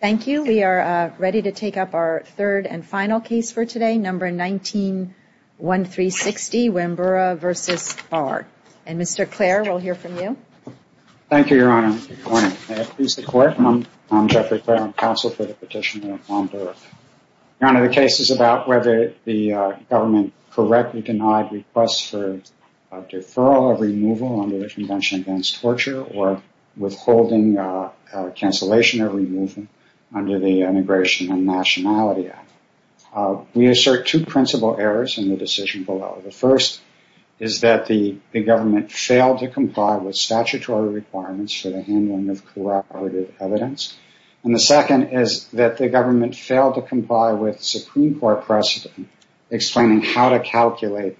Thank you. We are ready to take up our third and final case for today, No. 19-1360, Wambura v. Barr. And Mr. Clare, we'll hear from you. Thank you, Your Honor. Good morning. May it please the Court, I'm Jeffrey Clare, I'm counsel for the petitioner of Wambura. Your Honor, the case is about whether the government correctly denied requests for deferral of removal under the Convention Against Torture or withholding cancellation of removal under the Immigration and Nationality Act. We assert two principal errors in the decision below. The first is that the government failed to comply with statutory requirements for the handling of corroborative evidence. And the second is that the government failed to comply with Supreme Court precedent explaining how to calculate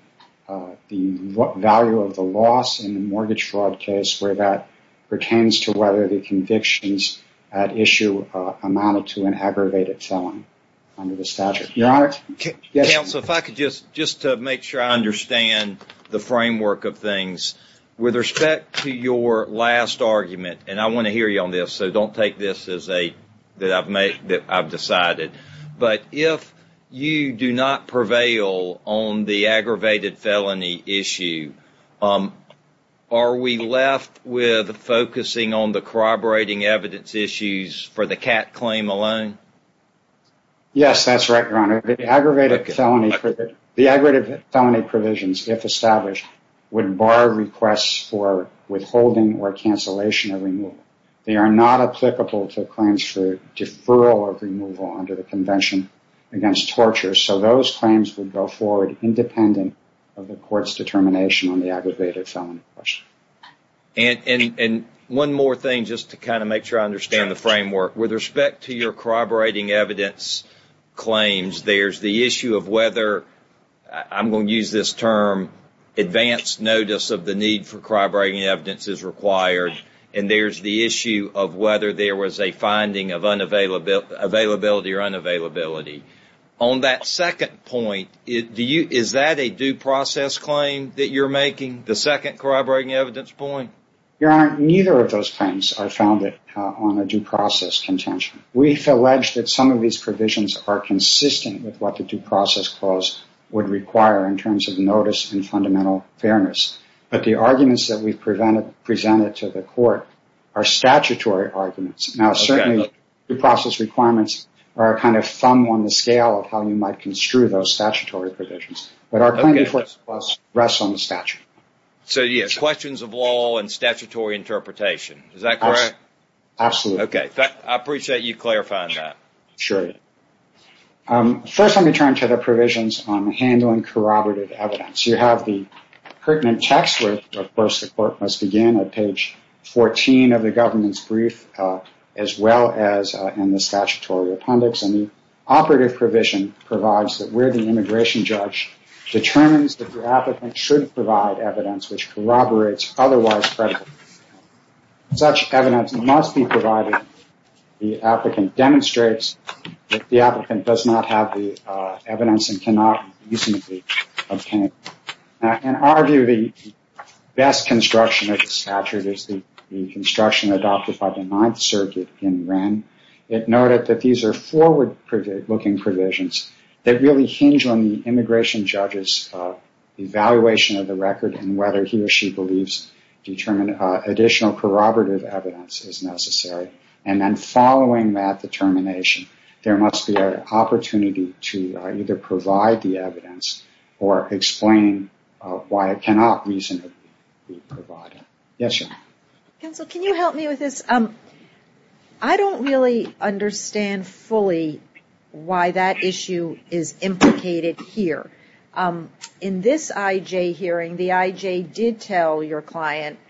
the value of the loss in the mortgage fraud case where that pertains to whether the convictions at issue amounted to an aggravated felony under the statute. Your Honor, yes. Counsel, if I could just make sure I understand the framework of things. With respect to your last argument, and I want to hear you on this, so don't take this as a, that I've made, that I've decided. But if you do not prevail on the aggravated felony issue, are we left with focusing on the corroborating evidence issues for the CAT claim alone? Yes, that's right, Your Honor. The aggravated felony provisions, if established, would bar requests for withholding or cancellation of removal. They are not applicable to claims for deferral of removal under the Convention Against Torture. So those claims would go forward independent of the court's determination on the aggravated felony question. And one more thing, just to kind of make sure I understand the framework. With respect to your corroborating evidence claims, there's the issue of whether, I'm going to use this term, advanced notice of the need for corroborating evidence is required. And there's the issue of whether there was a finding of availability or unavailability. On that second point, is that a due process claim that you're making, the second corroborating evidence point? Your Honor, neither of those claims are founded on a due process contention. We've alleged that some of these provisions are consistent with what the due process clause would require in terms of notice and fundamental fairness. But the arguments that we've presented to the court are statutory arguments. Now, certainly, due process requirements are a kind of thumb on the scale of how you might construe those statutory provisions. But our claim before the clause rests on the statute. So yes, questions of law and statutory interpretation. Is that correct? Absolutely. Okay. I appreciate you clarifying that. Sure. First, let me turn to the provisions on handling corroborative evidence. You have the pertinent text where, of course, the court must begin at page 14 of the government's brief, as well as in the statutory appendix. And the operative provision provides that where the immigration judge determines that the applicant should provide evidence which the applicant does not have the evidence and cannot reasonably obtain. Now, in our view, the best construction of the statute is the construction adopted by the Ninth Circuit in Wren. It noted that these are forward-looking provisions that really hinge on the immigration judge's evaluation of the record and whether he or she believes additional corroborative evidence is necessary. And then following that determination, there must be an opportunity to either provide the evidence or explain why it cannot reasonably be provided. Yes, Your Honor. Counsel, can you help me with this? I don't really understand fully why that issue is client.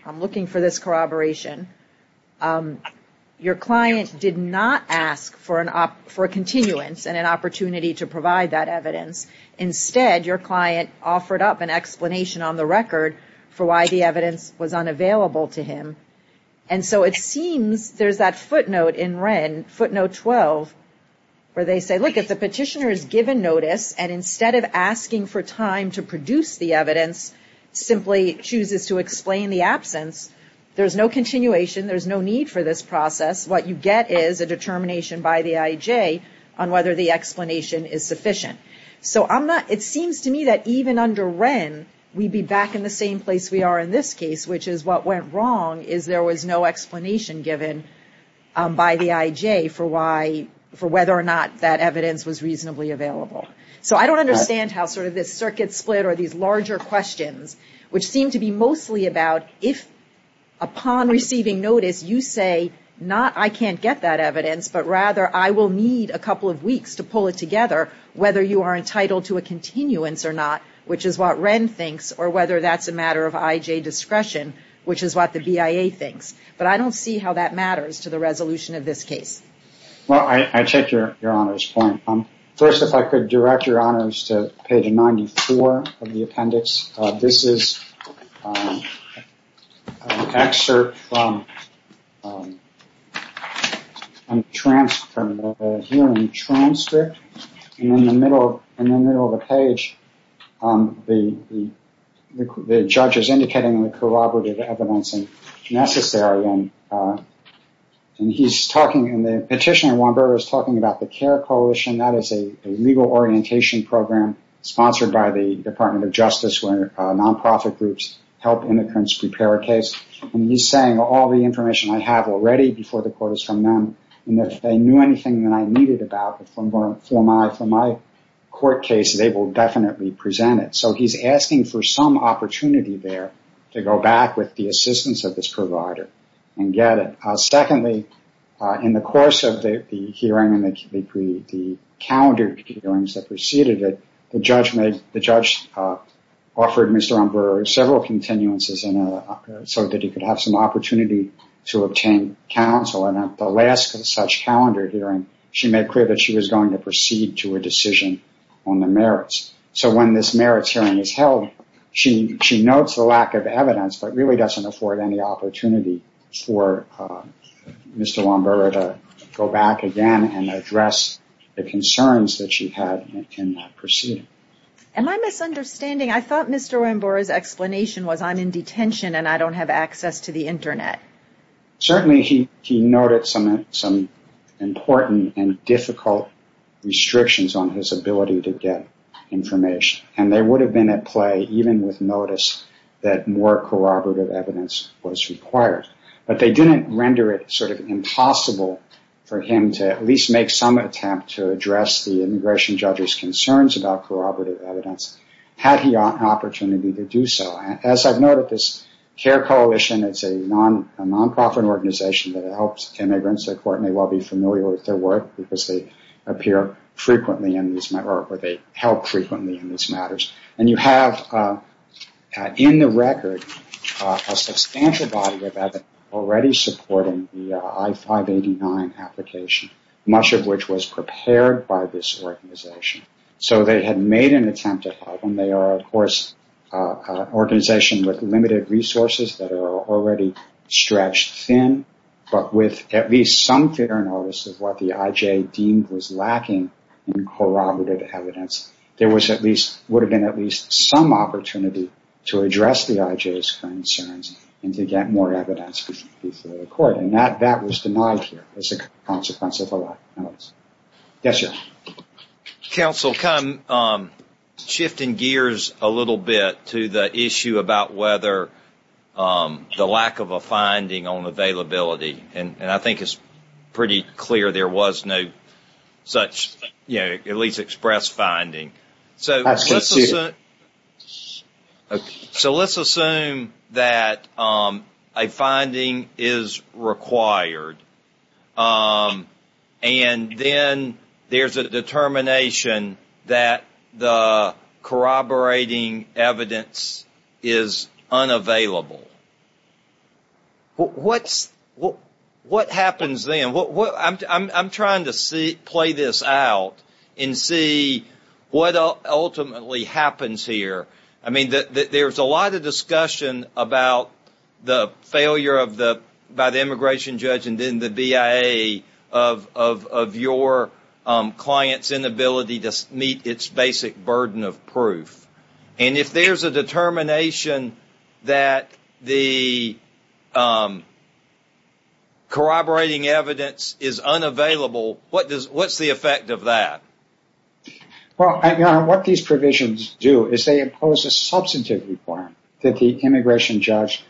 I'm looking for this corroboration. Your client did not ask for a continuance and an opportunity to provide that evidence. Instead, your client offered up an explanation on the record for why the evidence was unavailable to him. And so it seems there's that footnote in Wren, footnote 12, where they say, look, if the petitioner is given notice and instead of asking for time to produce the evidence, simply chooses to explain the absence, there's no continuation, there's no need for this process. What you get is a determination by the IJ on whether the explanation is sufficient. So it seems to me that even under Wren, we'd be back in the same place we are in this case, which is what went wrong is there was no explanation given by the IJ for whether or not that evidence was reasonably available. So I don't understand how sort of this circuit split or these larger questions, which seem to be mostly about if upon receiving notice, you say, not I can't get that evidence, but rather I will need a couple of weeks to pull it together, whether you are entitled to a continuance or not, which is what Wren thinks, or whether that's a matter of IJ discretion, which is what the BIA thinks. But I don't see how that matters to the resolution of this case. Well, I take your Honour's point. First, if I could direct your Honour's to page 94 of the appendix. This is an excerpt from a hearing transcript, and in the middle of the page, the judge is indicating the corroborative evidence is necessary. And the petitioner Juan Berger is talking about the CARE Coalition. That is a legal orientation program sponsored by the Department of Justice, where non-profit groups help immigrants prepare a case. And he's saying all the information I have already before the court is from them, and if they knew anything that I needed about it for my court case, they will definitely present it. So he's asking for some opportunity there to go back with the assistance of this provider and get it. Secondly, in the course of the hearing and the calendared hearings that preceded it, the judge offered Mr. Umbrera several continuances so that he could have some opportunity to obtain counsel. And at the last such calendar hearing, she made clear that she was going to proceed to a decision on the merits. So when this merits hearing is held, she notes the lack of evidence but really doesn't afford any opportunity for Mr. Umbrera to go back again and address the concerns that she had in that proceeding. Am I misunderstanding? I thought Mr. Umbrera's explanation was, I'm in detention and I don't have access to the Internet. Certainly he noted some important and difficult restrictions on his ability to get information. And they would have been at play even with notice that more corroborative evidence was required. But they didn't render it sort of impossible for him to at least make some attempt to address the immigration judge's concerns about corroborative evidence had he had an access. CARE Coalition, it's a non-profit organization that helps immigrants. I'm sure you will be familiar with their work because they appear frequently in these, or they help frequently in these matters. And you have in the record a substantial body of evidence already supporting the I-589 application, much of which was prepared by this organization. So they had made an attempt at that. And they are, of course, an organization with limited resources that are already stretched thin. But with at least some fair notice of what the IJ deemed was lacking in corroborative evidence, there was at least, would have been at least some opportunity to address the IJ's concerns and to get more evidence before the court. And that was denied by the IJ. Counsel, kind of shifting gears a little bit to the issue about whether the lack of a finding on availability. And I think it's pretty clear there was no such, you know, at least express finding. So let's assume that a finding is required. And that the IJ is required to provide it. And then there's a determination that the corroborating evidence is unavailable. What happens then? I'm trying to play this out and see what ultimately happens here. I mean, there's a lot of discussion about the failure by the immigration judge and then the BIA of your client's inability to meet its basic burden of proof. And if there's a determination that the corroborating evidence is unavailable, what's the effect of that? Well, Your Honor, what these provisions do is they impose a substantive requirement that the immigration judge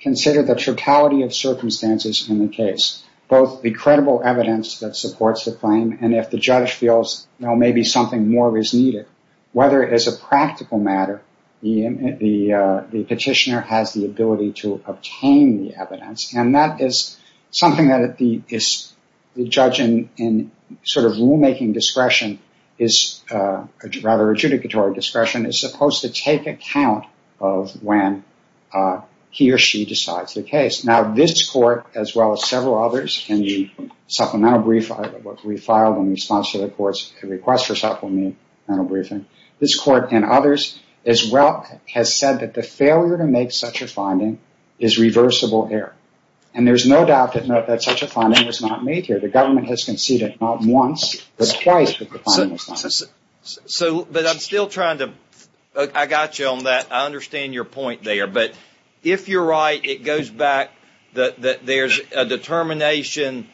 consider the totality of circumstances in the case. Both the credible evidence that supports the claim and if the judge feels, you know, maybe something more is needed. Whether it is a practical matter, the petitioner has the ability to obtain the evidence. And that is something that the judge in sort of rulemaking discretion, rather adjudicatory discretion, is supposed to take account of when he or she decides the case. Now this court, as well as several others, and we filed in response to the court's request for supplemental briefing, this court and others as well has said that the failure to make such a finding is reversible error. And there's no doubt that such a finding was not made here. The I got you on that. I understand your point there. But if you're right, it goes back that there's a determination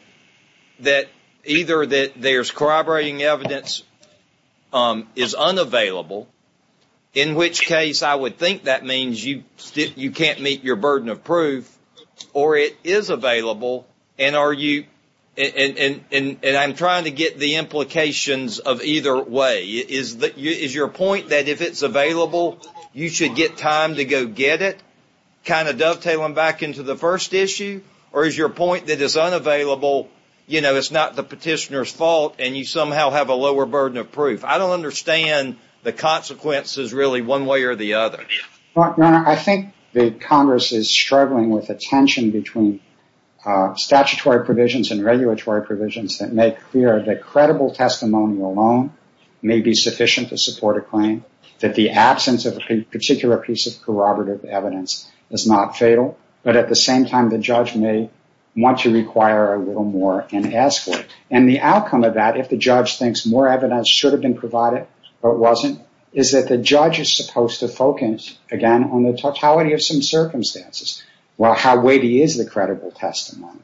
that either that there's corroborating evidence is unavailable, in which case I would think that means you can't meet your burden of proof, or it is available and are you – and I'm trying to get the implications of either way. Is your point that if it's available, you should get time to go get it? Kind of dovetailing back into the first issue? Or is your point that it's unavailable, you know, it's not the petitioner's fault and you somehow have a lower burden of proof? I don't understand the consequences really one way or the other. Your Honor, I think that Congress is struggling with a tension between statutory provisions and regulatory provisions that make clear that credible testimony alone may be sufficient to support a claim, that the absence of a particular piece of corroborative evidence is not fatal, but at the same time the judge may want to require a little more and ask for it. And the outcome of that, if the judge thinks more evidence should have been provided but wasn't, is that the judge is supposed to focus, again, on the totality of some circumstances. Well, how weighty is the credible testimony?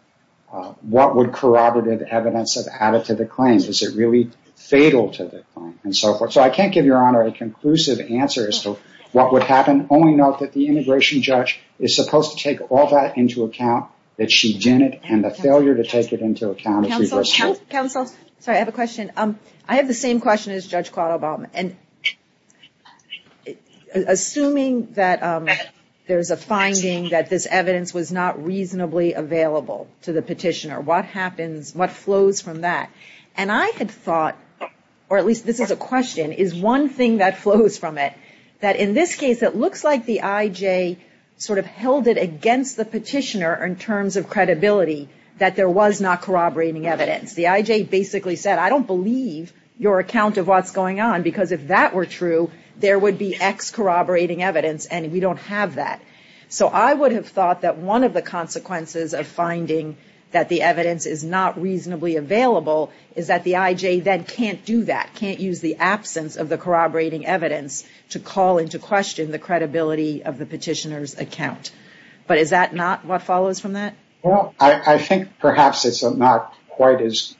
What would corroborative evidence have added to the claim? Is it really fatal to the claim? And so forth. So I can't give Your Honor a conclusive answer as to what would happen. Only note that the immigration judge is supposed to take all that into account, that she didn't, and the failure to take it into account is reversible. Counsel, counsel, sorry, I have a question. I have the same question as Judge Claude Obama. Assuming that there's a finding that this evidence was not reasonably available to the public, what happens, what flows from that? And I had thought, or at least this is a question, is one thing that flows from it, that in this case it looks like the IJ sort of held it against the petitioner in terms of credibility that there was not corroborating evidence. The IJ basically said, I don't believe your account of what's going on because if that were true, there would be X corroborating evidence and we don't have that. So I would have thought that one of the consequences of finding that the evidence is not reasonably available is that the IJ then can't do that, can't use the absence of the corroborating evidence to call into question the credibility of the petitioner's account. But is that not what follows from that? Well, I think perhaps it's not quite as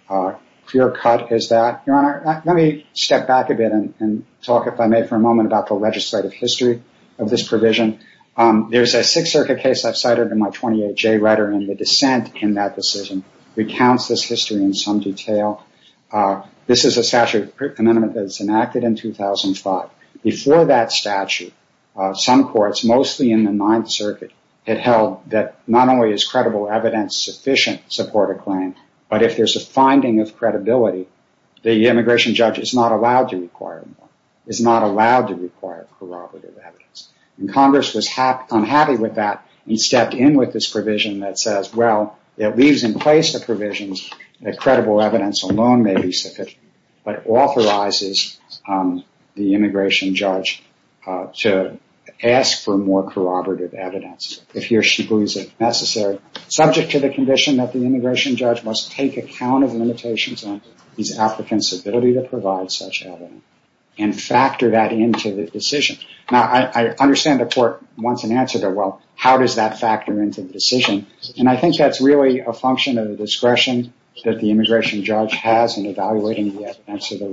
clear cut as that. Your Honor, let me step back a bit and talk, if I may, for a moment about the legislative history of this provision. There's a Sixth Circuit case I've cited in my 28J letter, and the dissent in that decision recounts this history in some detail. This is a statute of amendment that was enacted in 2005. Before that statute, some courts, mostly in the Ninth Circuit, had held that not only is credible evidence sufficient to support a claim, but if there's a finding of credibility, the immigration judge is not allowed to require more, is not allowed to require more. And the court, of course, was unhappy with that and stepped in with this provision that says, well, it leaves in place the provisions that credible evidence alone may be sufficient, but authorizes the immigration judge to ask for more corroborative evidence if he or she believes it necessary, subject to the condition that the immigration judge must take account of limitations on the applicant's ability to provide such evidence, and factor that into the decision. Now, I understand the court wants an answer to, well, how does that factor into the decision? And I think that's really a function of the discretion that the immigration judge has in evaluating the evidence of the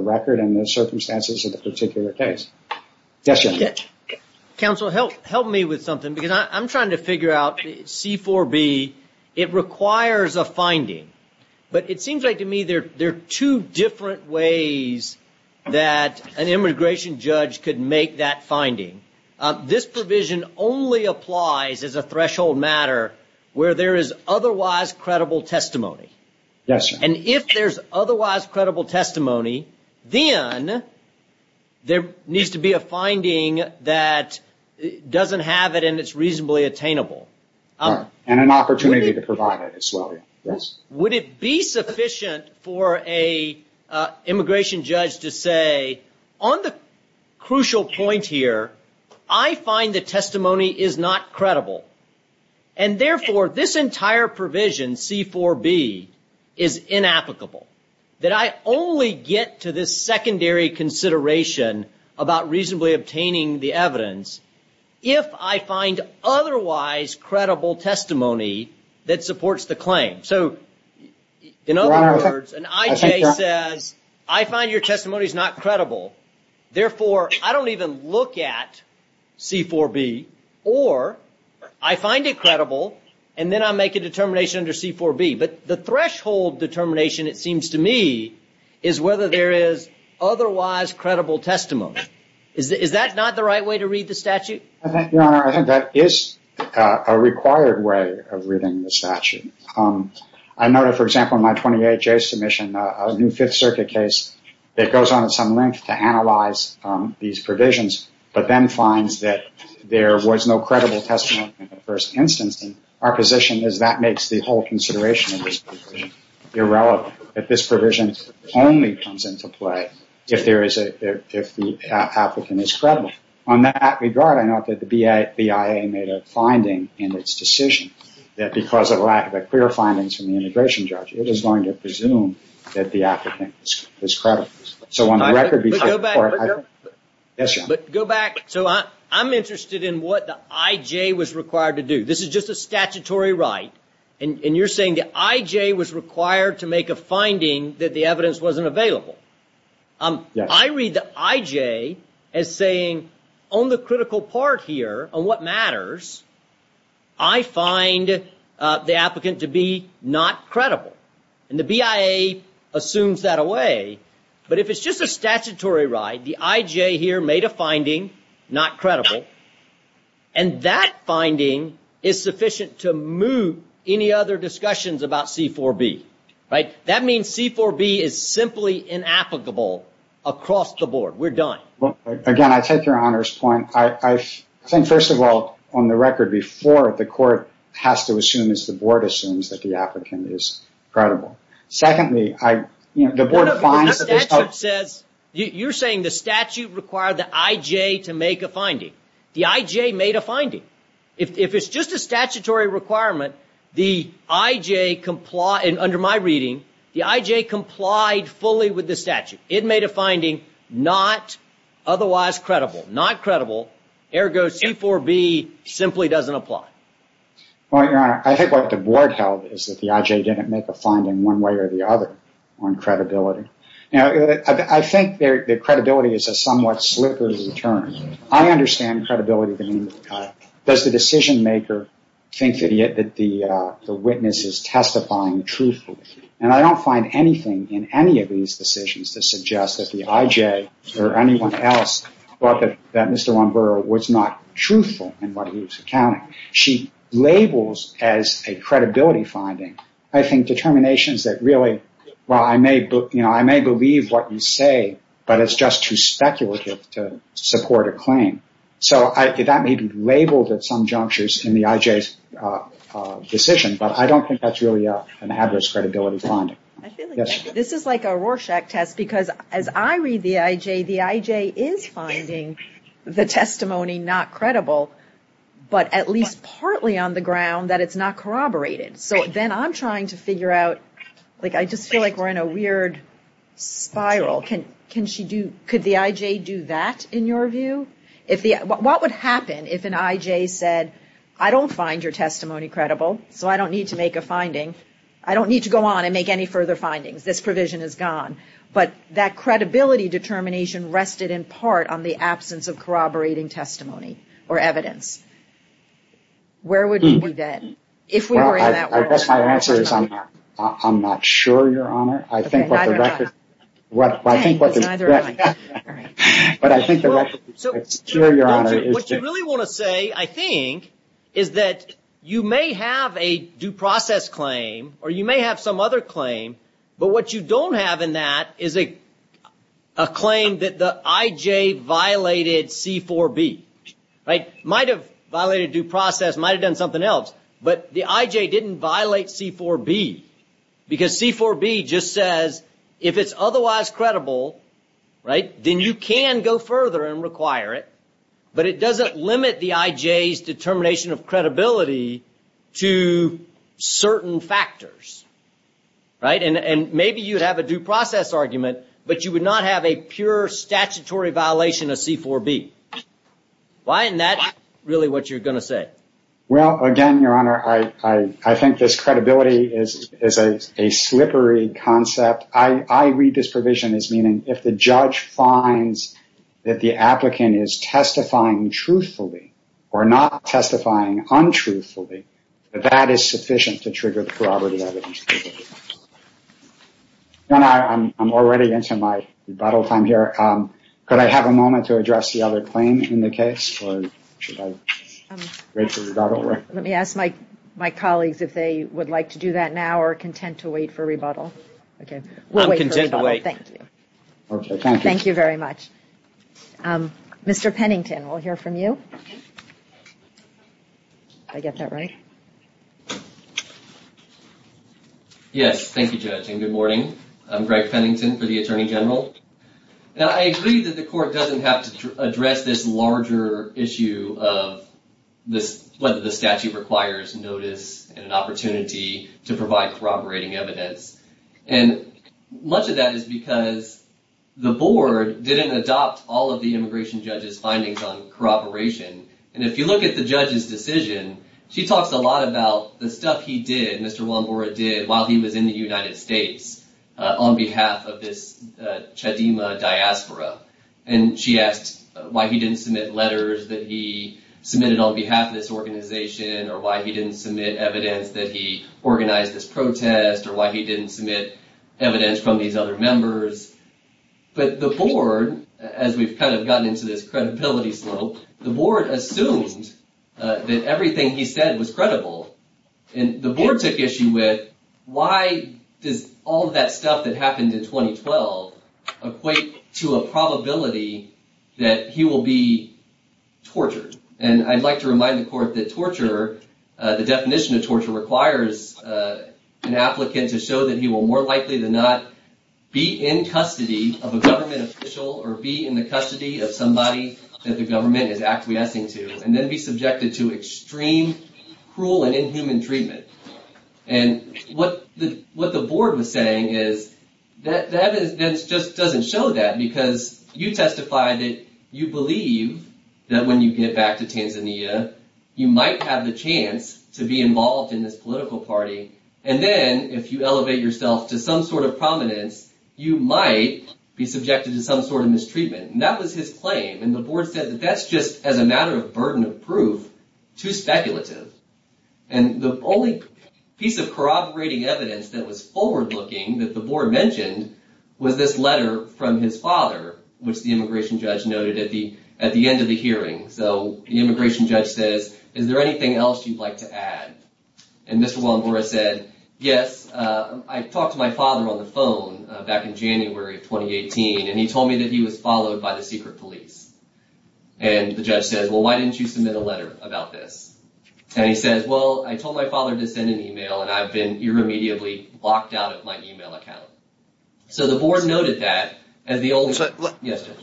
record and the circumstances of the particular case. Yes, Jim. Counsel, help me with something, because I'm trying to figure out C-4B. It requires a finding, but it seems like to me there are two different ways that an immigration judge could make that finding. This provision only applies as a threshold matter where there is otherwise credible testimony. Yes, sir. And if there's otherwise credible testimony, then there needs to be a finding that doesn't have it and it's reasonably attainable. And an opportunity to provide it as well, would it be sufficient for a immigration judge to say, on the crucial point here, I find the testimony is not credible. And therefore, this entire provision, C-4B, is inapplicable. That I only get to this secondary consideration about reasonably obtaining the evidence if I find otherwise credible testimony that supports the claim. So, in other words, an IJ says, I find your testimony is not credible. Therefore, I don't even look at C-4B or I find it credible and then I make a determination under C-4B. But the threshold determination, it seems to me, is whether there is otherwise credible testimony. Is that not the right way to read the statute? I think, Your Honor, I think that is a required way of reading the statute. I noted, for example, in my 28-J submission, a new Fifth Circuit case that goes on at some length to analyze these provisions, but then finds that there was no credible testimony in the first instance. Our position is that makes the whole consideration of this provision irrelevant. That this provision only comes into play if the applicant is credible. On that regard, I note that the BIA made a finding in its decision that because of a lack of a clear findings from the immigration judge, it is going to presume that the applicant is credible. So on the record before the court, I think... But go back. So I'm interested in what the IJ was required to do. This is just a statutory right, and you're saying the IJ was required to make a finding that the evidence wasn't available. I read the IJ as saying, on the critical part here, on what matters, I find the applicant to be not credible. And the BIA assumes that away. But if it's just a statutory right, the IJ here made a finding, not credible, and that finding is sufficient to move any other discussions about C-4B. That means C-4B is simply inapplicable across the board. We're done. Again, I take your Honor's point. I think, first of all, on the record before, the court has to assume, as the board assumes, that the applicant is credible. Secondly, the board finds that there's... You're saying the statute required the IJ to make a finding. The IJ made a finding. If it's just a statutory requirement, the IJ, under my reading, the IJ complied fully with the statute. It made a finding not otherwise credible. Not credible. Ergo, C-4B simply doesn't apply. Well, Your Honor, I think what the board held is that the IJ didn't make a finding one way or the other on credibility. Now, I think the credibility is a somewhat slippery term. I understand credibility being cut. Does the decision-maker think that the witness is testifying truthfully? I don't find anything in any of these decisions to suggest that the IJ or anyone else thought that Mr. Lomboro was not truthful in what he was accounting. She labels as a credibility finding, I think, determinations that really, well, I may believe what you claim. So that may be labeled at some junctures in the IJ's decision, but I don't think that's really an adverse credibility finding. This is like a Rorschach test, because as I read the IJ, the IJ is finding the testimony not credible, but at least partly on the ground that it's not corroborated. So then I'm trying to figure out, like I just feel like we're in a weird spiral. Could the IJ do that in your view? What would happen if an IJ said, I don't find your testimony credible, so I don't need to make a finding. I don't need to go on and make any further findings. This provision is gone. But that credibility determination rested in part on the absence of corroborating testimony or evidence. Where would you be then? I guess my answer is I'm not sure, Your Honor. What you really want to say, I think, is that you may have a due process claim, or you may have some other claim, but what you don't have in that is a claim that the IJ violated C-4B. Might have violated due process, might have done something else, but the IJ didn't violate C-4B, because C-4B just says if it's otherwise credible, then you can go further and require it, but it doesn't limit the IJ's determination of credibility to certain factors. And maybe you'd have a due process argument, but you would not have a pure statutory violation of C-4B. Why isn't that really what you're going to say? Well, again, Your Honor, I think this credibility is a slippery concept. I read this provision as meaning if the judge finds that the applicant is testifying truthfully or not testifying untruthfully, that that is sufficient to trigger the corroborative evidence. Your Honor, I'm already into my rebuttal time here. Could I have a moment to address the other claim in the case, or should I wait for rebuttal? Let me ask my colleagues if they would like to do that now or are content to wait for rebuttal. I'm content to wait. Thank you very much. Mr. Pennington, we'll hear from you. Did I get that right? Yes. Thank you, Judge. And good morning. I'm Greg Pennington for the Attorney General. Now, I agree that the court doesn't have to address this larger issue of whether the statute requires notice and an opportunity to provide corroborating evidence. And much of that is because the board didn't adopt all of the immigration judge's findings on corroboration. And if you look at the judge's decision, she talks a lot about the stuff he did, Mr. Wambora did while he was in the United States on behalf of this Chedima diaspora. And she asked why he didn't submit letters that he submitted on behalf of this organization, or why he didn't submit evidence that he organized this protest, or why he didn't submit evidence from these other members. But the board, as we've kind of gotten into this credibility slope, the board assumed that everything he said was credible. And the board took issue with why does all that stuff that happened in 2012 equate to a probability that he will be tortured. And I'd like to remind the court that torture, the definition of torture, requires an applicant to show that he will more likely than not be in custody of a government official or be in the custody of somebody that the government is acquiescing to, and then be subjected to extreme, cruel, and inhuman treatment. And what the board was saying is that just doesn't show that, because you testified that you believe that when you get back to Tanzania, you might have the chance to be involved in this political party. And then if you elevate yourself to some sort of prominence, you might be subjected to some sort of mistreatment. And that was his claim. And the board said that that's just, as a matter of burden of proof, too speculative. And the only piece of corroborating evidence that was forward-looking that the board mentioned was this letter from his father, which the immigration judge noted at the end of the hearing. So the immigration judge says, is there anything else you'd like to add? And Mr. Walenbora said, yes, I talked to my father on the phone back in January of 2018, and he told me that he was followed by the secret police. And the judge says, well, why didn't you submit a letter about this? And he says, well, I told my father to send an email, and I've been immediately locked out of my email account. So the board noted that as the only...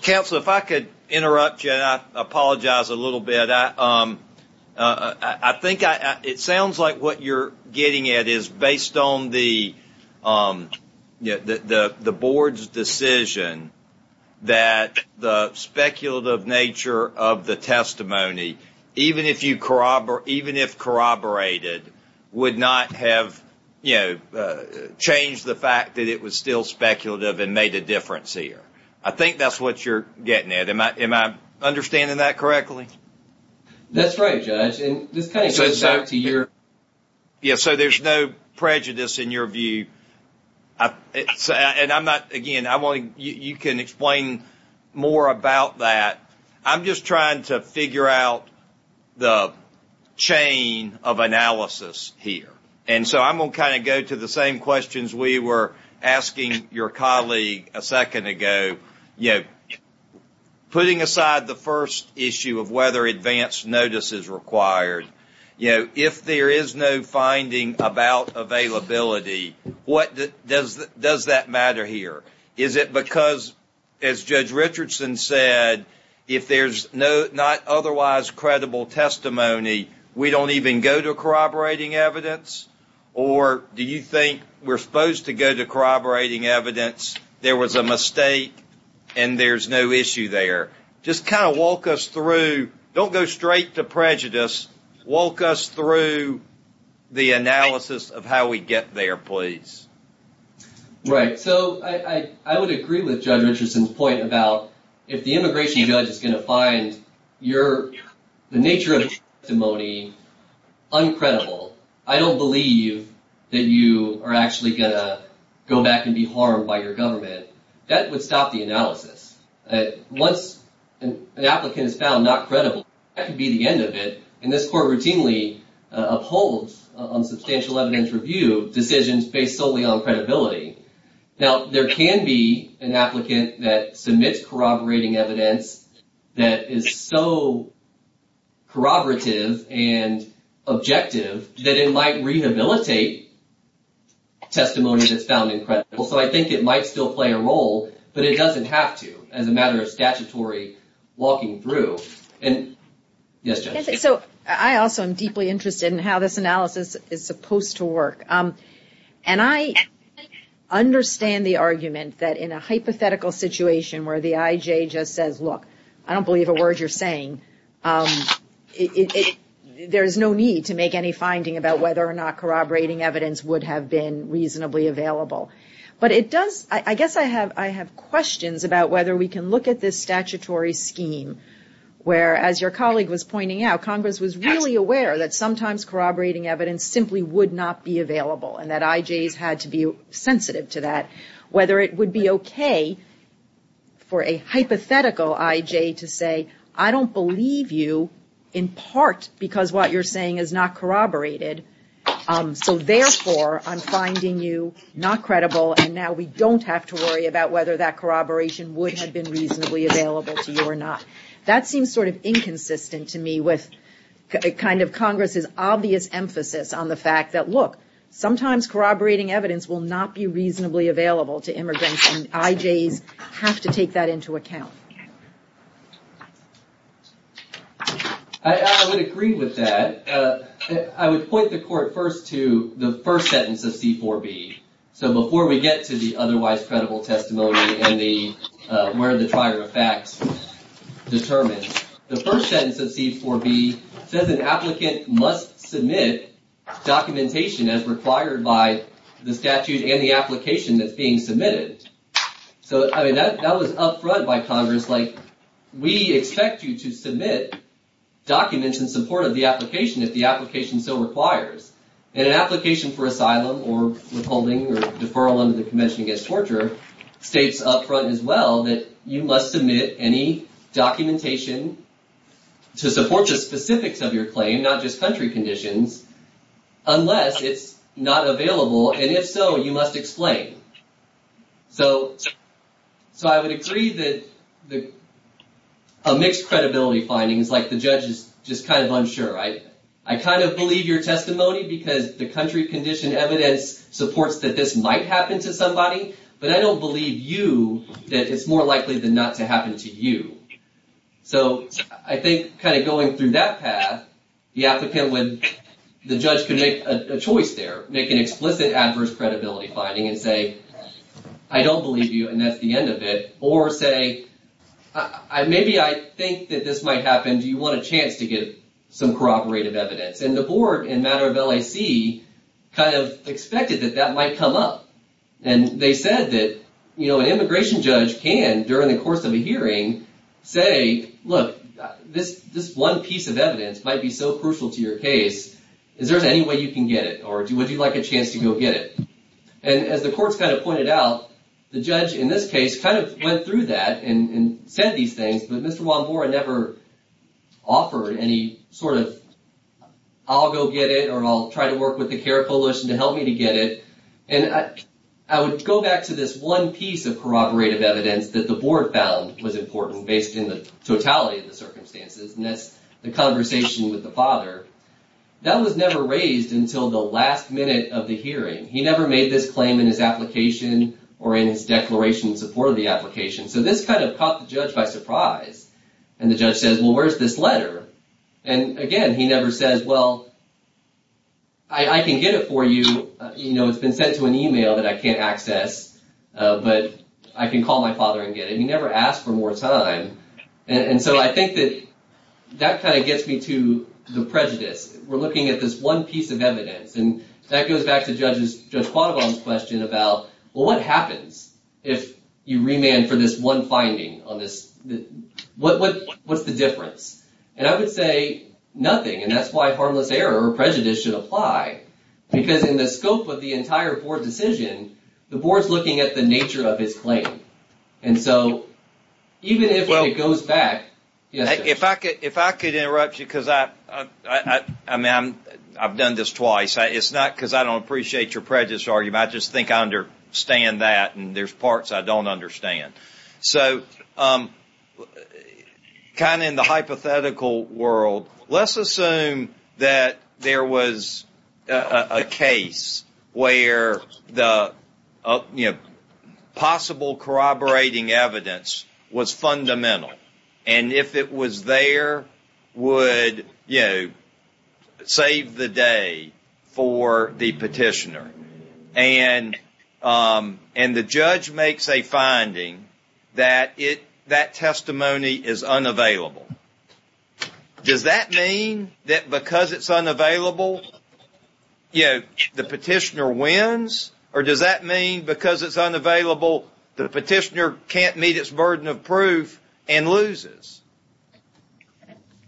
Counsel, if I could interrupt you, and I apologize a little bit. I think it sounds like what you're getting at is based on the board's decision that the speculative nature of the testimony, even if corroborated, would not have changed the fact that it was still speculative and made a difference here. I think that's what you're getting at. Am I understanding that correctly? That's right, Judge. And this kind of goes back to your... Yeah, so there's no prejudice in your view. And I'm not... Again, I want to... You can explain more about that. I'm just trying to figure out the chain of analysis here. And so I'm going to kind of go to the same questions we were asking your colleague a second ago. Putting aside the first issue of whether advance notice is required, if there is no finding about availability, what does that matter here? Is it because, as Judge Richardson said, if there's not otherwise credible testimony, we don't even go to corroborating evidence? Or do you think we're supposed to go to corroborating evidence, there was a mistake, and there's no issue there? Just kind of walk us through... Don't go straight to prejudice. Walk us through the analysis of how we get there, please. Right. So I would agree with Judge Richardson's point about if the immigration judge is going to find the nature of your testimony uncredible, I don't believe that you are actually going to go back and be harmed by your government, that would stop the analysis. Once an applicant is found not credible, that could be the end of it. And this court routinely upholds on credibility. Now, there can be an applicant that submits corroborating evidence that is so corroborative and objective that it might rehabilitate testimony that's found incredible. So I think it might still play a role, but it doesn't have to as a matter of statutory walking through. And... Yes, Judge. So I also am deeply interested in how this analysis is supposed to work. And I understand the argument that in a hypothetical situation where the IJ just says, look, I don't believe a word you're saying, there's no need to make any finding about whether or not corroborating evidence would have been reasonably available. But it does... I guess I have questions about whether we can look at this statutory scheme where, as your colleague was pointing out, Congress was really aware that sometimes corroborating evidence simply would not be available and that IJs had to be sensitive to that. Whether it would be okay for a hypothetical IJ to say, I don't believe you in part because what you're saying is not corroborated. So therefore, I'm finding you not credible and now we don't have to worry about whether that corroboration would have been reasonably available to you or not. That seems sort of inconsistent to me with kind of Congress's obvious emphasis on the fact that, look, sometimes corroborating evidence will not be reasonably available to immigrants and IJs have to take that into account. I would agree with that. I would point the court first to the first sentence of C-4B. So before we get to the otherwise credible testimony and where the trier of facts determines, the first sentence of C-4B says an applicant must submit documentation as required by the statute and the application that's being submitted. So I mean, that was up front by Congress. Like, we expect you to submit documents in support of the application if the application so requires. And an application for asylum or withholding or deferral under the Convention Against Torture states up front as well that you must submit any documentation to support the specifics of your claim, not just country conditions, unless it's not available. And if so, you must explain. So I would agree that a mixed credibility finding is like the judge is just kind of giving evidence, supports that this might happen to somebody, but I don't believe you that it's more likely than not to happen to you. So I think kind of going through that path, the applicant would, the judge could make a choice there, make an explicit adverse credibility finding and say, I don't believe you and that's the end of it. Or say, maybe I think that this might happen. Do you want a chance to get some corroborative evidence? And the board in matter of LAC kind of expected that that might come up. And they said that, you know, an immigration judge can, during the course of a hearing, say, look, this one piece of evidence might be so crucial to your case. Is there any way you can get it? Or would you like a chance to go get it? And as the courts kind of pointed out, the judge in this case kind of went through that and said these things, but Mr. Wambora never offered any sort of, I'll go get it or I'll try to work with the CARE Coalition to help me to get it. And I would go back to this one piece of corroborative evidence that the board found was important based in the totality of the circumstances. And that's the conversation with the father. That was never raised until the last minute of the hearing. He never made this claim in his application or in his declaration in support of the application. So this kind of caught the judge by surprise. And the judge says, well, where's this letter? And again, he never says, well, I can get it for you. You know, it's been sent to an email that I can't access, but I can call my father and get it. He never asked for more time. And so I think that that kind of gets me to the prejudice. We're looking at this one piece of evidence. And that goes back to Judge Quaddogon's question about, well, what happens if you have one finding on this? What's the difference? And I would say nothing. And that's why harmless error or prejudice should apply. Because in the scope of the entire board decision, the board's looking at the nature of his claim. And so even if it goes back... If I could interrupt you, because I've done this twice. It's not because I don't appreciate your prejudice argument. I just think I understand that. And there's parts I don't understand. So kind of in the hypothetical world, let's assume that there was a case where the possible corroborating evidence was fundamental. And if it was there, would, you know, save the day for the petitioner? And the judge makes a finding that that testimony is unavailable. Does that mean that because it's unavailable, you know, the petitioner wins? Or does that mean because it's unavailable, the petitioner can't meet its burden of proof and loses?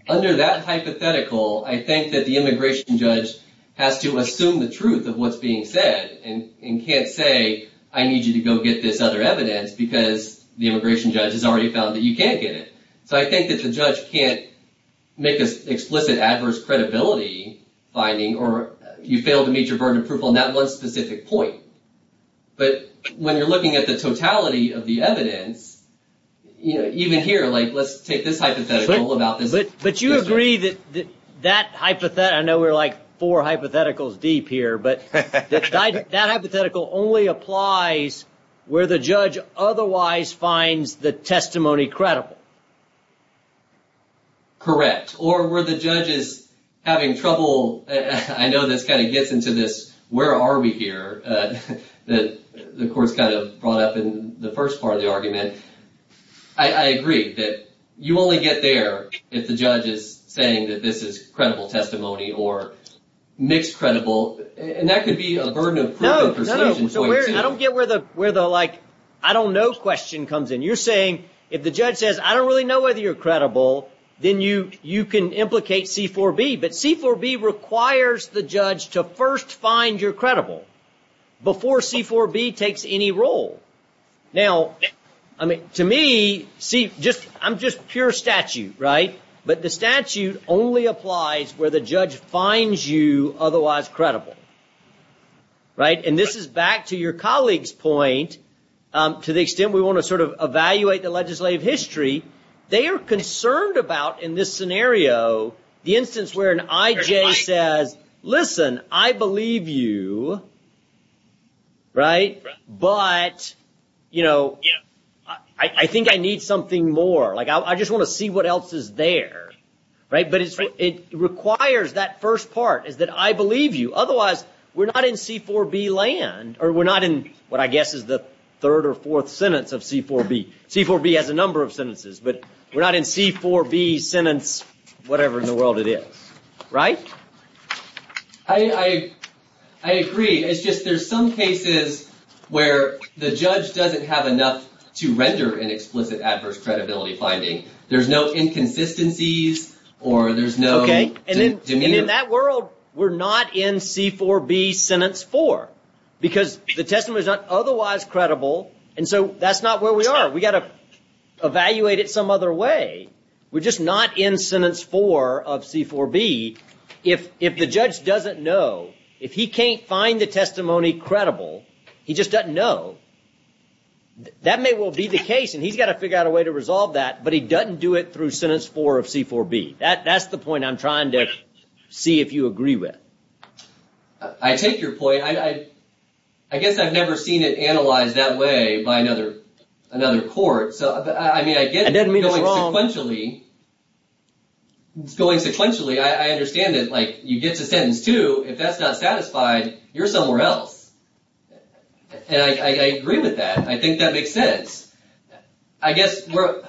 Under that hypothetical, I think that the immigration judge has to assume the truth of what's being said and can't say, I need you to go get this other evidence because the immigration judge has already found that you can't get it. So I think that the judge can't make this explicit adverse credibility finding or you fail to meet your burden of proof on that one specific point. But when you're looking at the totality of the evidence, you know, even here, like, let's take this hypothetical about this. But you agree that that hypothetical, I know we're like four hypotheticals deep here, but that hypothetical only applies where the judge otherwise finds the testimony credible. Correct. Or where the judge is having trouble, I know this kind of gets into this, where are we here, that the court's kind of brought up in the first part of the argument. I agree that you only get there if the judge is saying that this is credible testimony or mixed credible. And that could be a burden of proof and persuasion. No, no. I don't get where the, like, I don't know question comes in. You're saying, if the judge says, I don't really know whether you're credible, then you can implicate C-4B. But C-4B requires the judge to first find you're credible before C-4B takes any role. Now, I mean, to me, see, just, I'm just pure statute, right? But the statute only applies where the judge finds you otherwise credible. Right? And this is back to your colleague's point, to the extent we want to sort of evaluate the legislative history. They are concerned about, in this scenario, the instance where an IJ says, listen, I believe you, right? But, you know, I think I need something more. Like, I just want to see what else is there. Right? But it requires that first part, is that I believe you. Otherwise, we're not in C-4B land, or we're not in what I guess is the third or fourth sentence of C-4B. C-4B has a number of sentences, but we're not in C-4B sentence whatever in the world it is. Right? I agree. It's just there's some cases where the judge doesn't have enough to render an explicit adverse credibility finding. There's no inconsistencies, or there's no demeanor. Okay. And in that world, we're not in C-4B sentence four, because the testimony is not otherwise credible. And so that's not where we are. We got to evaluate it some other way. We're just not in sentence four of C-4B. If the judge doesn't know, if he can't find the testimony credible, he just doesn't know, that may well be the case. And he's got to figure out a way to resolve that, but he doesn't do it through sentence four of C-4B. That's the point I'm trying to see if you agree with. I take your point. I guess I've never seen it analyzed that way by another court. I mean, I get it going sequentially. I understand that you get to sentence two. If that's not satisfied, you're somewhere else. And I agree with that. I think that makes sense. I guess where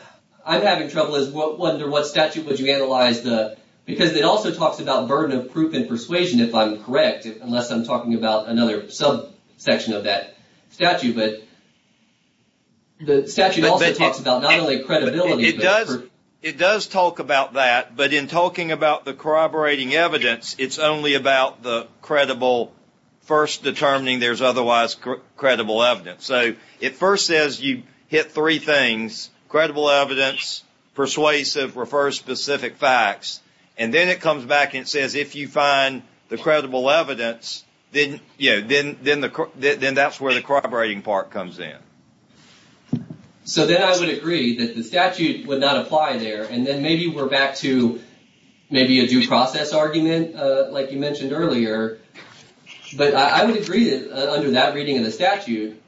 I'm having trouble is what statute would you analyze the... Because it also talks about burden of proof and persuasion, if I'm correct, unless I'm talking about another subsection of that statute. But the statute also talks about not only credibility... It does talk about that, but in talking about the corroborating evidence, it's only about the credible, first determining there's otherwise credible evidence. So it first says you hit three things, credible evidence, persuasive or first specific facts. And then it comes back and says, if you find the credible evidence, then that's where the corroborating part comes in. So then I would agree that the statute would not apply there. And then maybe we're back to maybe a due process argument like you mentioned earlier. But I would agree that under that reading of the statute,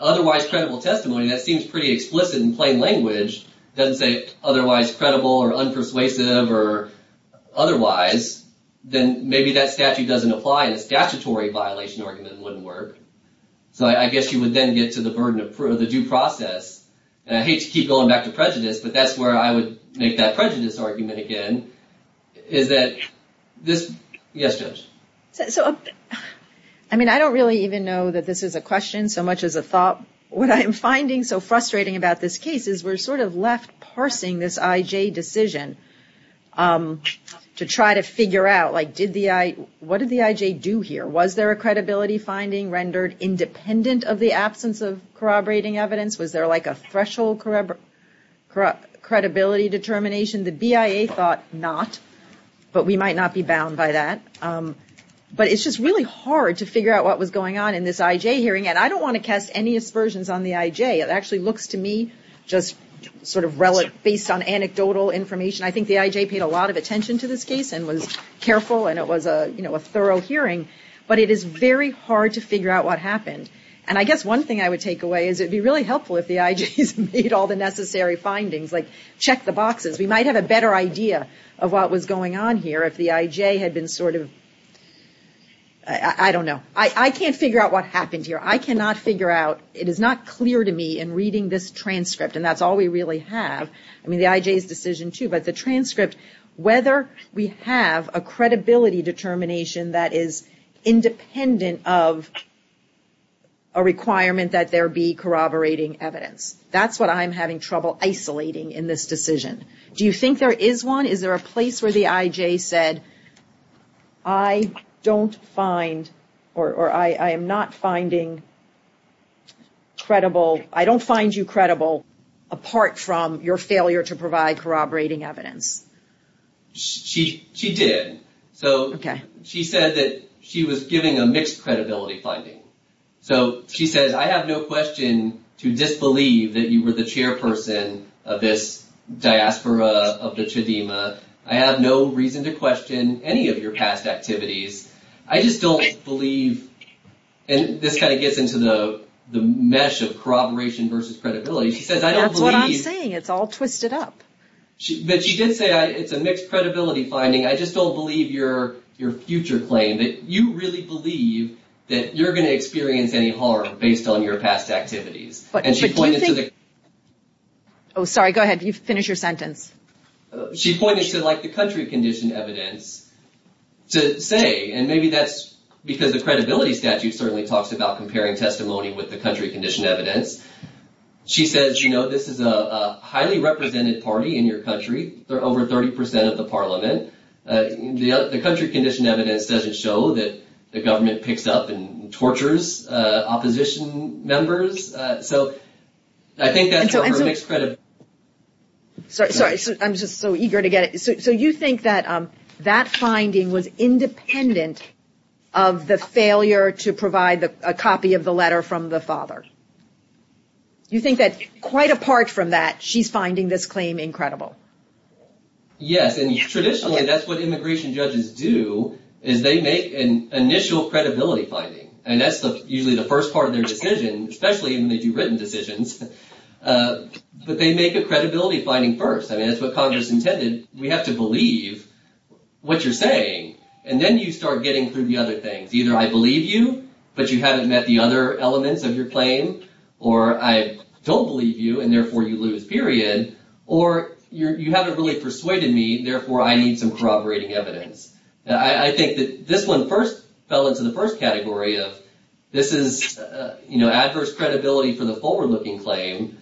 otherwise credible testimony, that seems pretty explicit in plain language, doesn't say otherwise credible or unpersuasive or otherwise, then maybe that statute doesn't apply and a statutory violation argument wouldn't work. So I guess you would then get to the burden of the due process. And I hate to keep going back to prejudice, but that's where I would make that prejudice argument again, is that this... Yes, Judge. I mean, I don't really even know that this is a question so much as a thought. What I'm finding so frustrating about this case is we're sort of left parsing this IJ decision to try to figure out like, what did the IJ do here? Was there a credibility finding rendered independent of the absence of corroborating evidence? Was there like a threshold credibility determination? The BIA thought not, but we might not be bound by that. But it's just really hard to figure out what was going on in this IJ hearing. And I don't want to cast any aspersions on the IJ. It actually looks to me just sort of based on anecdotal information. I think the IJ paid a lot of attention to this case and was careful and it was a thorough hearing, but it is very hard to figure out what happened. And I guess one thing I would take away is it would be really helpful if the IJs made all the necessary findings, like check the boxes. We might have a better idea of what was going on here if the IJ had been sort of, I don't know. I can't figure out what happened here. I cannot figure out, it is not clear to me in reading this transcript, and that's all we really have, I mean the IJ's decision too, but the transcript, whether we have a credibility determination that is independent of a requirement that there be corroborating evidence. That's what I'm having trouble isolating in this decision. Do you think there is one? Is there a place where the IJ said, I don't find or I am not finding credible, I don't find you credible apart from your failure to provide corroborating evidence? She did. So she said that she was giving a mixed credibility finding. So she says, I have no question to disbelieve that you were the chairperson of this diaspora of the Chedima. I have no reason to question any of your past activities. I just don't believe, and this kind of gets into the mesh of corroboration versus credibility. She says, I don't believe. That's what I'm saying. It's all twisted up. But she did say it's a mixed credibility finding. I just don't believe your future claim that you really believe that you're going to experience any harm based on your past activities. But do you think. And she pointed to the. Oh, sorry, go ahead. You finish your sentence. She pointed to like the country condition evidence to say, and maybe that's because the credibility statute certainly talks about comparing testimony with the country condition evidence. She says, you know, this is a highly represented party in your country. There are over 30 percent of the parliament. The country condition evidence doesn't show that the government picks up and tortures opposition members. So I think that's a mixed credit. Sorry, sorry. I'm just so eager to get it. So you think that that finding was independent of the failure to provide a copy of the letter from the father? You think that quite apart from that, she's finding this claim incredible? Yes. And traditionally, that's what immigration judges do, is they make an initial credibility finding. And that's usually the first part of their decision, especially when they do written decisions. But they make a credibility finding first. I mean, it's what Congress intended. We have to believe what you're saying. And then you start getting through the other things. Either I believe you, but you haven't met the other elements of your claim, or I don't believe you and therefore you lose, period. Or you haven't really persuaded me. Therefore, I need some corroborating evidence. I think that this one first fell into the first category of this is, you know, adverse credibility for the forward-looking claim.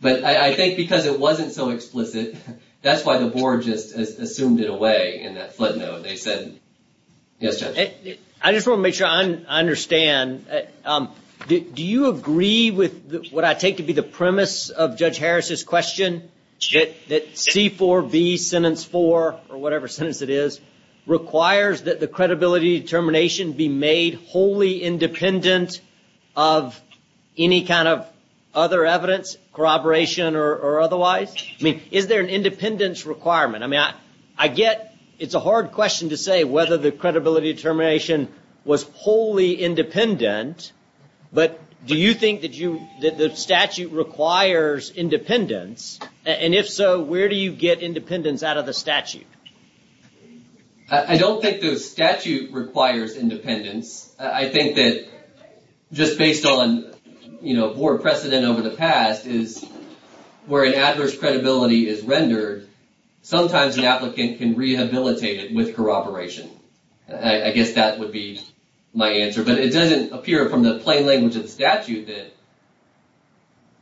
But I think because it wasn't so explicit, that's why the board just assumed it away in that flood note. They said, yes, Judge. I just want to make sure I understand. Do you agree with what I take to be the premise of Judge Harris's question? That C4V, sentence four, or whatever sentence it is, requires that the credibility determination be made wholly independent of any kind of other evidence, corroboration or otherwise? I mean, is there an independence requirement? I mean, I get it's a hard question to say whether the credibility determination was wholly independent. But do you think that the statute requires independence? And if so, where do you get independence out of the statute? I don't think the statute requires independence. I think that just based on board precedent over the past is where an adverse credibility is rendered, sometimes an applicant can rehabilitate it with corroboration. I guess that would be my answer. But it doesn't appear from the plain language of the statute that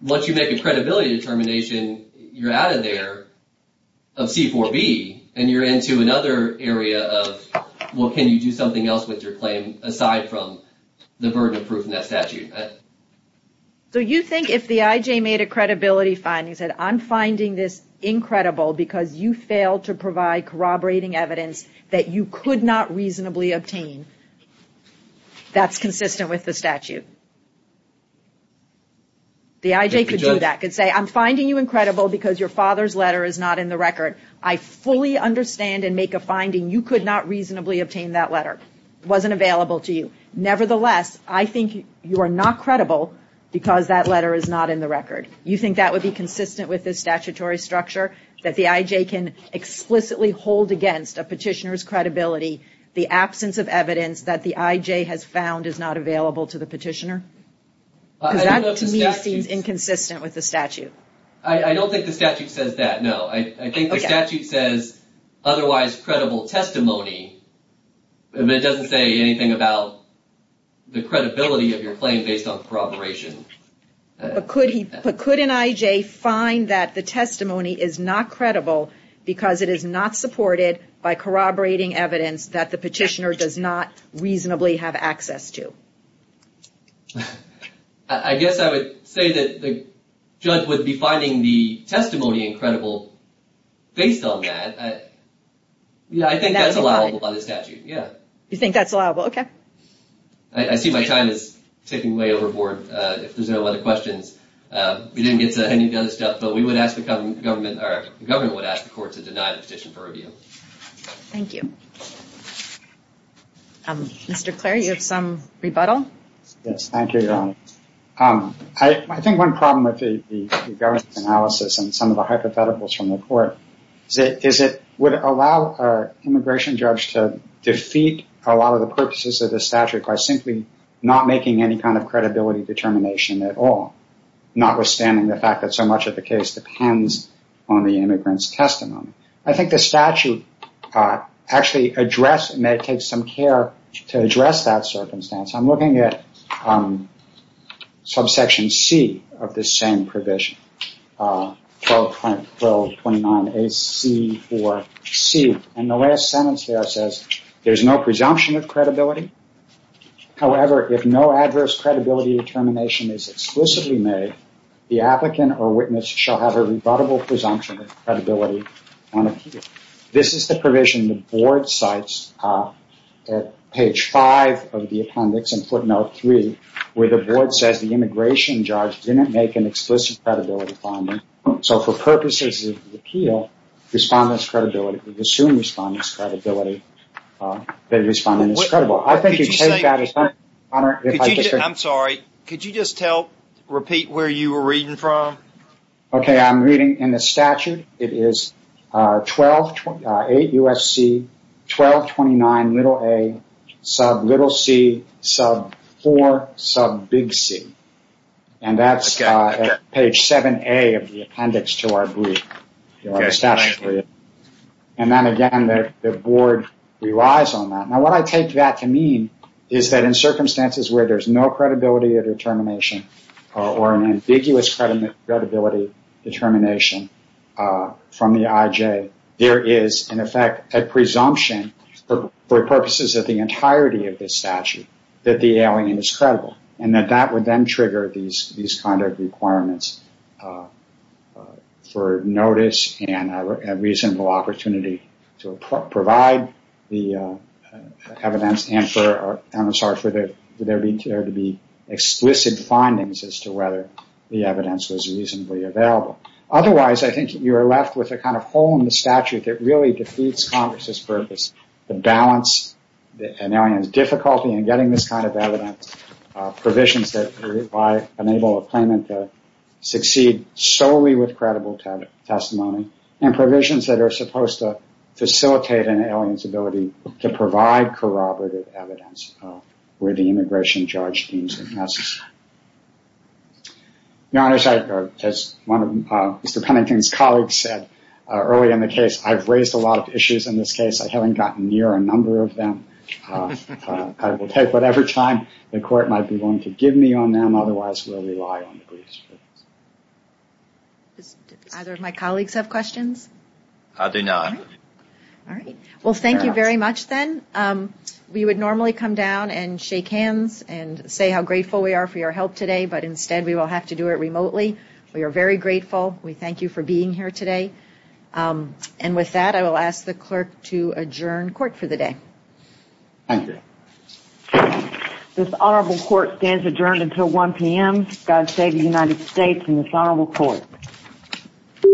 once you make a credibility determination, you're out of there of C4V and you're into another area of, well, can you do something else with your claim aside from the burden of proof in that statute? So you think if the IJ made a credibility finding and said, I'm finding this incredible because you failed to provide corroborating evidence that you could not reasonably obtain, that's consistent with the statute? The IJ could do that? Could say, I'm finding you incredible because your father's letter is not in the record. I fully understand and make a finding you could not reasonably obtain that letter. It wasn't available to you. Nevertheless, I think you are not credible because that letter is not in the record. You think that would be consistent with this statutory structure? That the IJ can explicitly hold against a petitioner's credibility the absence of evidence that the IJ has found is not available to the petitioner? That to me seems inconsistent with the statute. I don't think the statute says that. No, I think the statute says otherwise credible testimony. It doesn't say anything about the credibility of your claim based on corroboration. But could an IJ find that the testimony is not credible because it is not supported by corroborating evidence that the petitioner does not reasonably have access to? I guess I would say that the judge would be finding the testimony incredible based on that. Yeah, I think that's allowable by the statute. Yeah. You think that's allowable? Okay. I see my time is ticking way overboard. If there's no other questions. We didn't get to any of the other stuff, but we would ask the government to deny the petition for review. Thank you. Mr. Clare, you have some rebuttal? Yes, thank you, Your Honor. I think one problem with the government's analysis and some of the hypotheticals from the court is that it would allow an immigration judge to defeat a lot of the purposes of the statute by simply not making any kind of credibility determination at all, notwithstanding the fact that so much of the case depends on the immigrant's testimony. I think the statute actually addressed, and it takes some care to address that circumstance. I'm looking at subsection C of this same provision, 1229AC4C, and the last sentence there says there's no presumption of credibility. However, if no adverse credibility determination is explicitly made, the applicant or witness shall have a rebuttable presumption of credibility on appeal. This is the provision the board cites at page five of the appendix in footnote three, where the board says the immigration judge didn't make an explicit credibility determination. For purposes of the appeal, the presumed respondent's credibility, the respondent is credible. I'm sorry, could you just repeat where you were reading from? Okay, I'm reading in the statute. It is 1228USC1229aC4C, and that's page 7A of the appendix to our brief. Then again, the board relies on that. Now, what I take that to mean is that in circumstances where there's no credibility determination or an ambiguous credibility determination from the IJ, there is, in effect, a presumption for purposes of the entirety of this statute that the alien is credible, and that that would then trigger these kind of requirements for notice and a reasonable opportunity to provide the evidence and for there to be explicit findings as to whether the evidence was reasonably available. Otherwise, I think you are left with a kind of hole in the statute that really defeats Congress's purpose to balance an alien's difficulty in getting this kind of evidence, provisions that enable a claimant to succeed solely with credible testimony, and provisions that are supposed to facilitate an alien's ability to provide corroborative evidence where the immigration judge deems it necessary. Your Honor, as one of Mr. Pennington's colleagues said early in the case, I've raised a lot of issues in this case. I haven't gotten near a number of them. I will take whatever time the Court might be willing to give me on them. Otherwise, we'll rely on the briefs. Do either of my colleagues have questions? I do not. All right. Well, thank you very much then. We would normally come down and shake hands and say how grateful we are for your help today, but instead we will have to do it remotely. We are very grateful. We thank you for being here today. And with that, I will ask the Court to adjourn until 1 p.m. Thank you. This Honorable Court stands adjourned until 1 p.m., God save the United States and this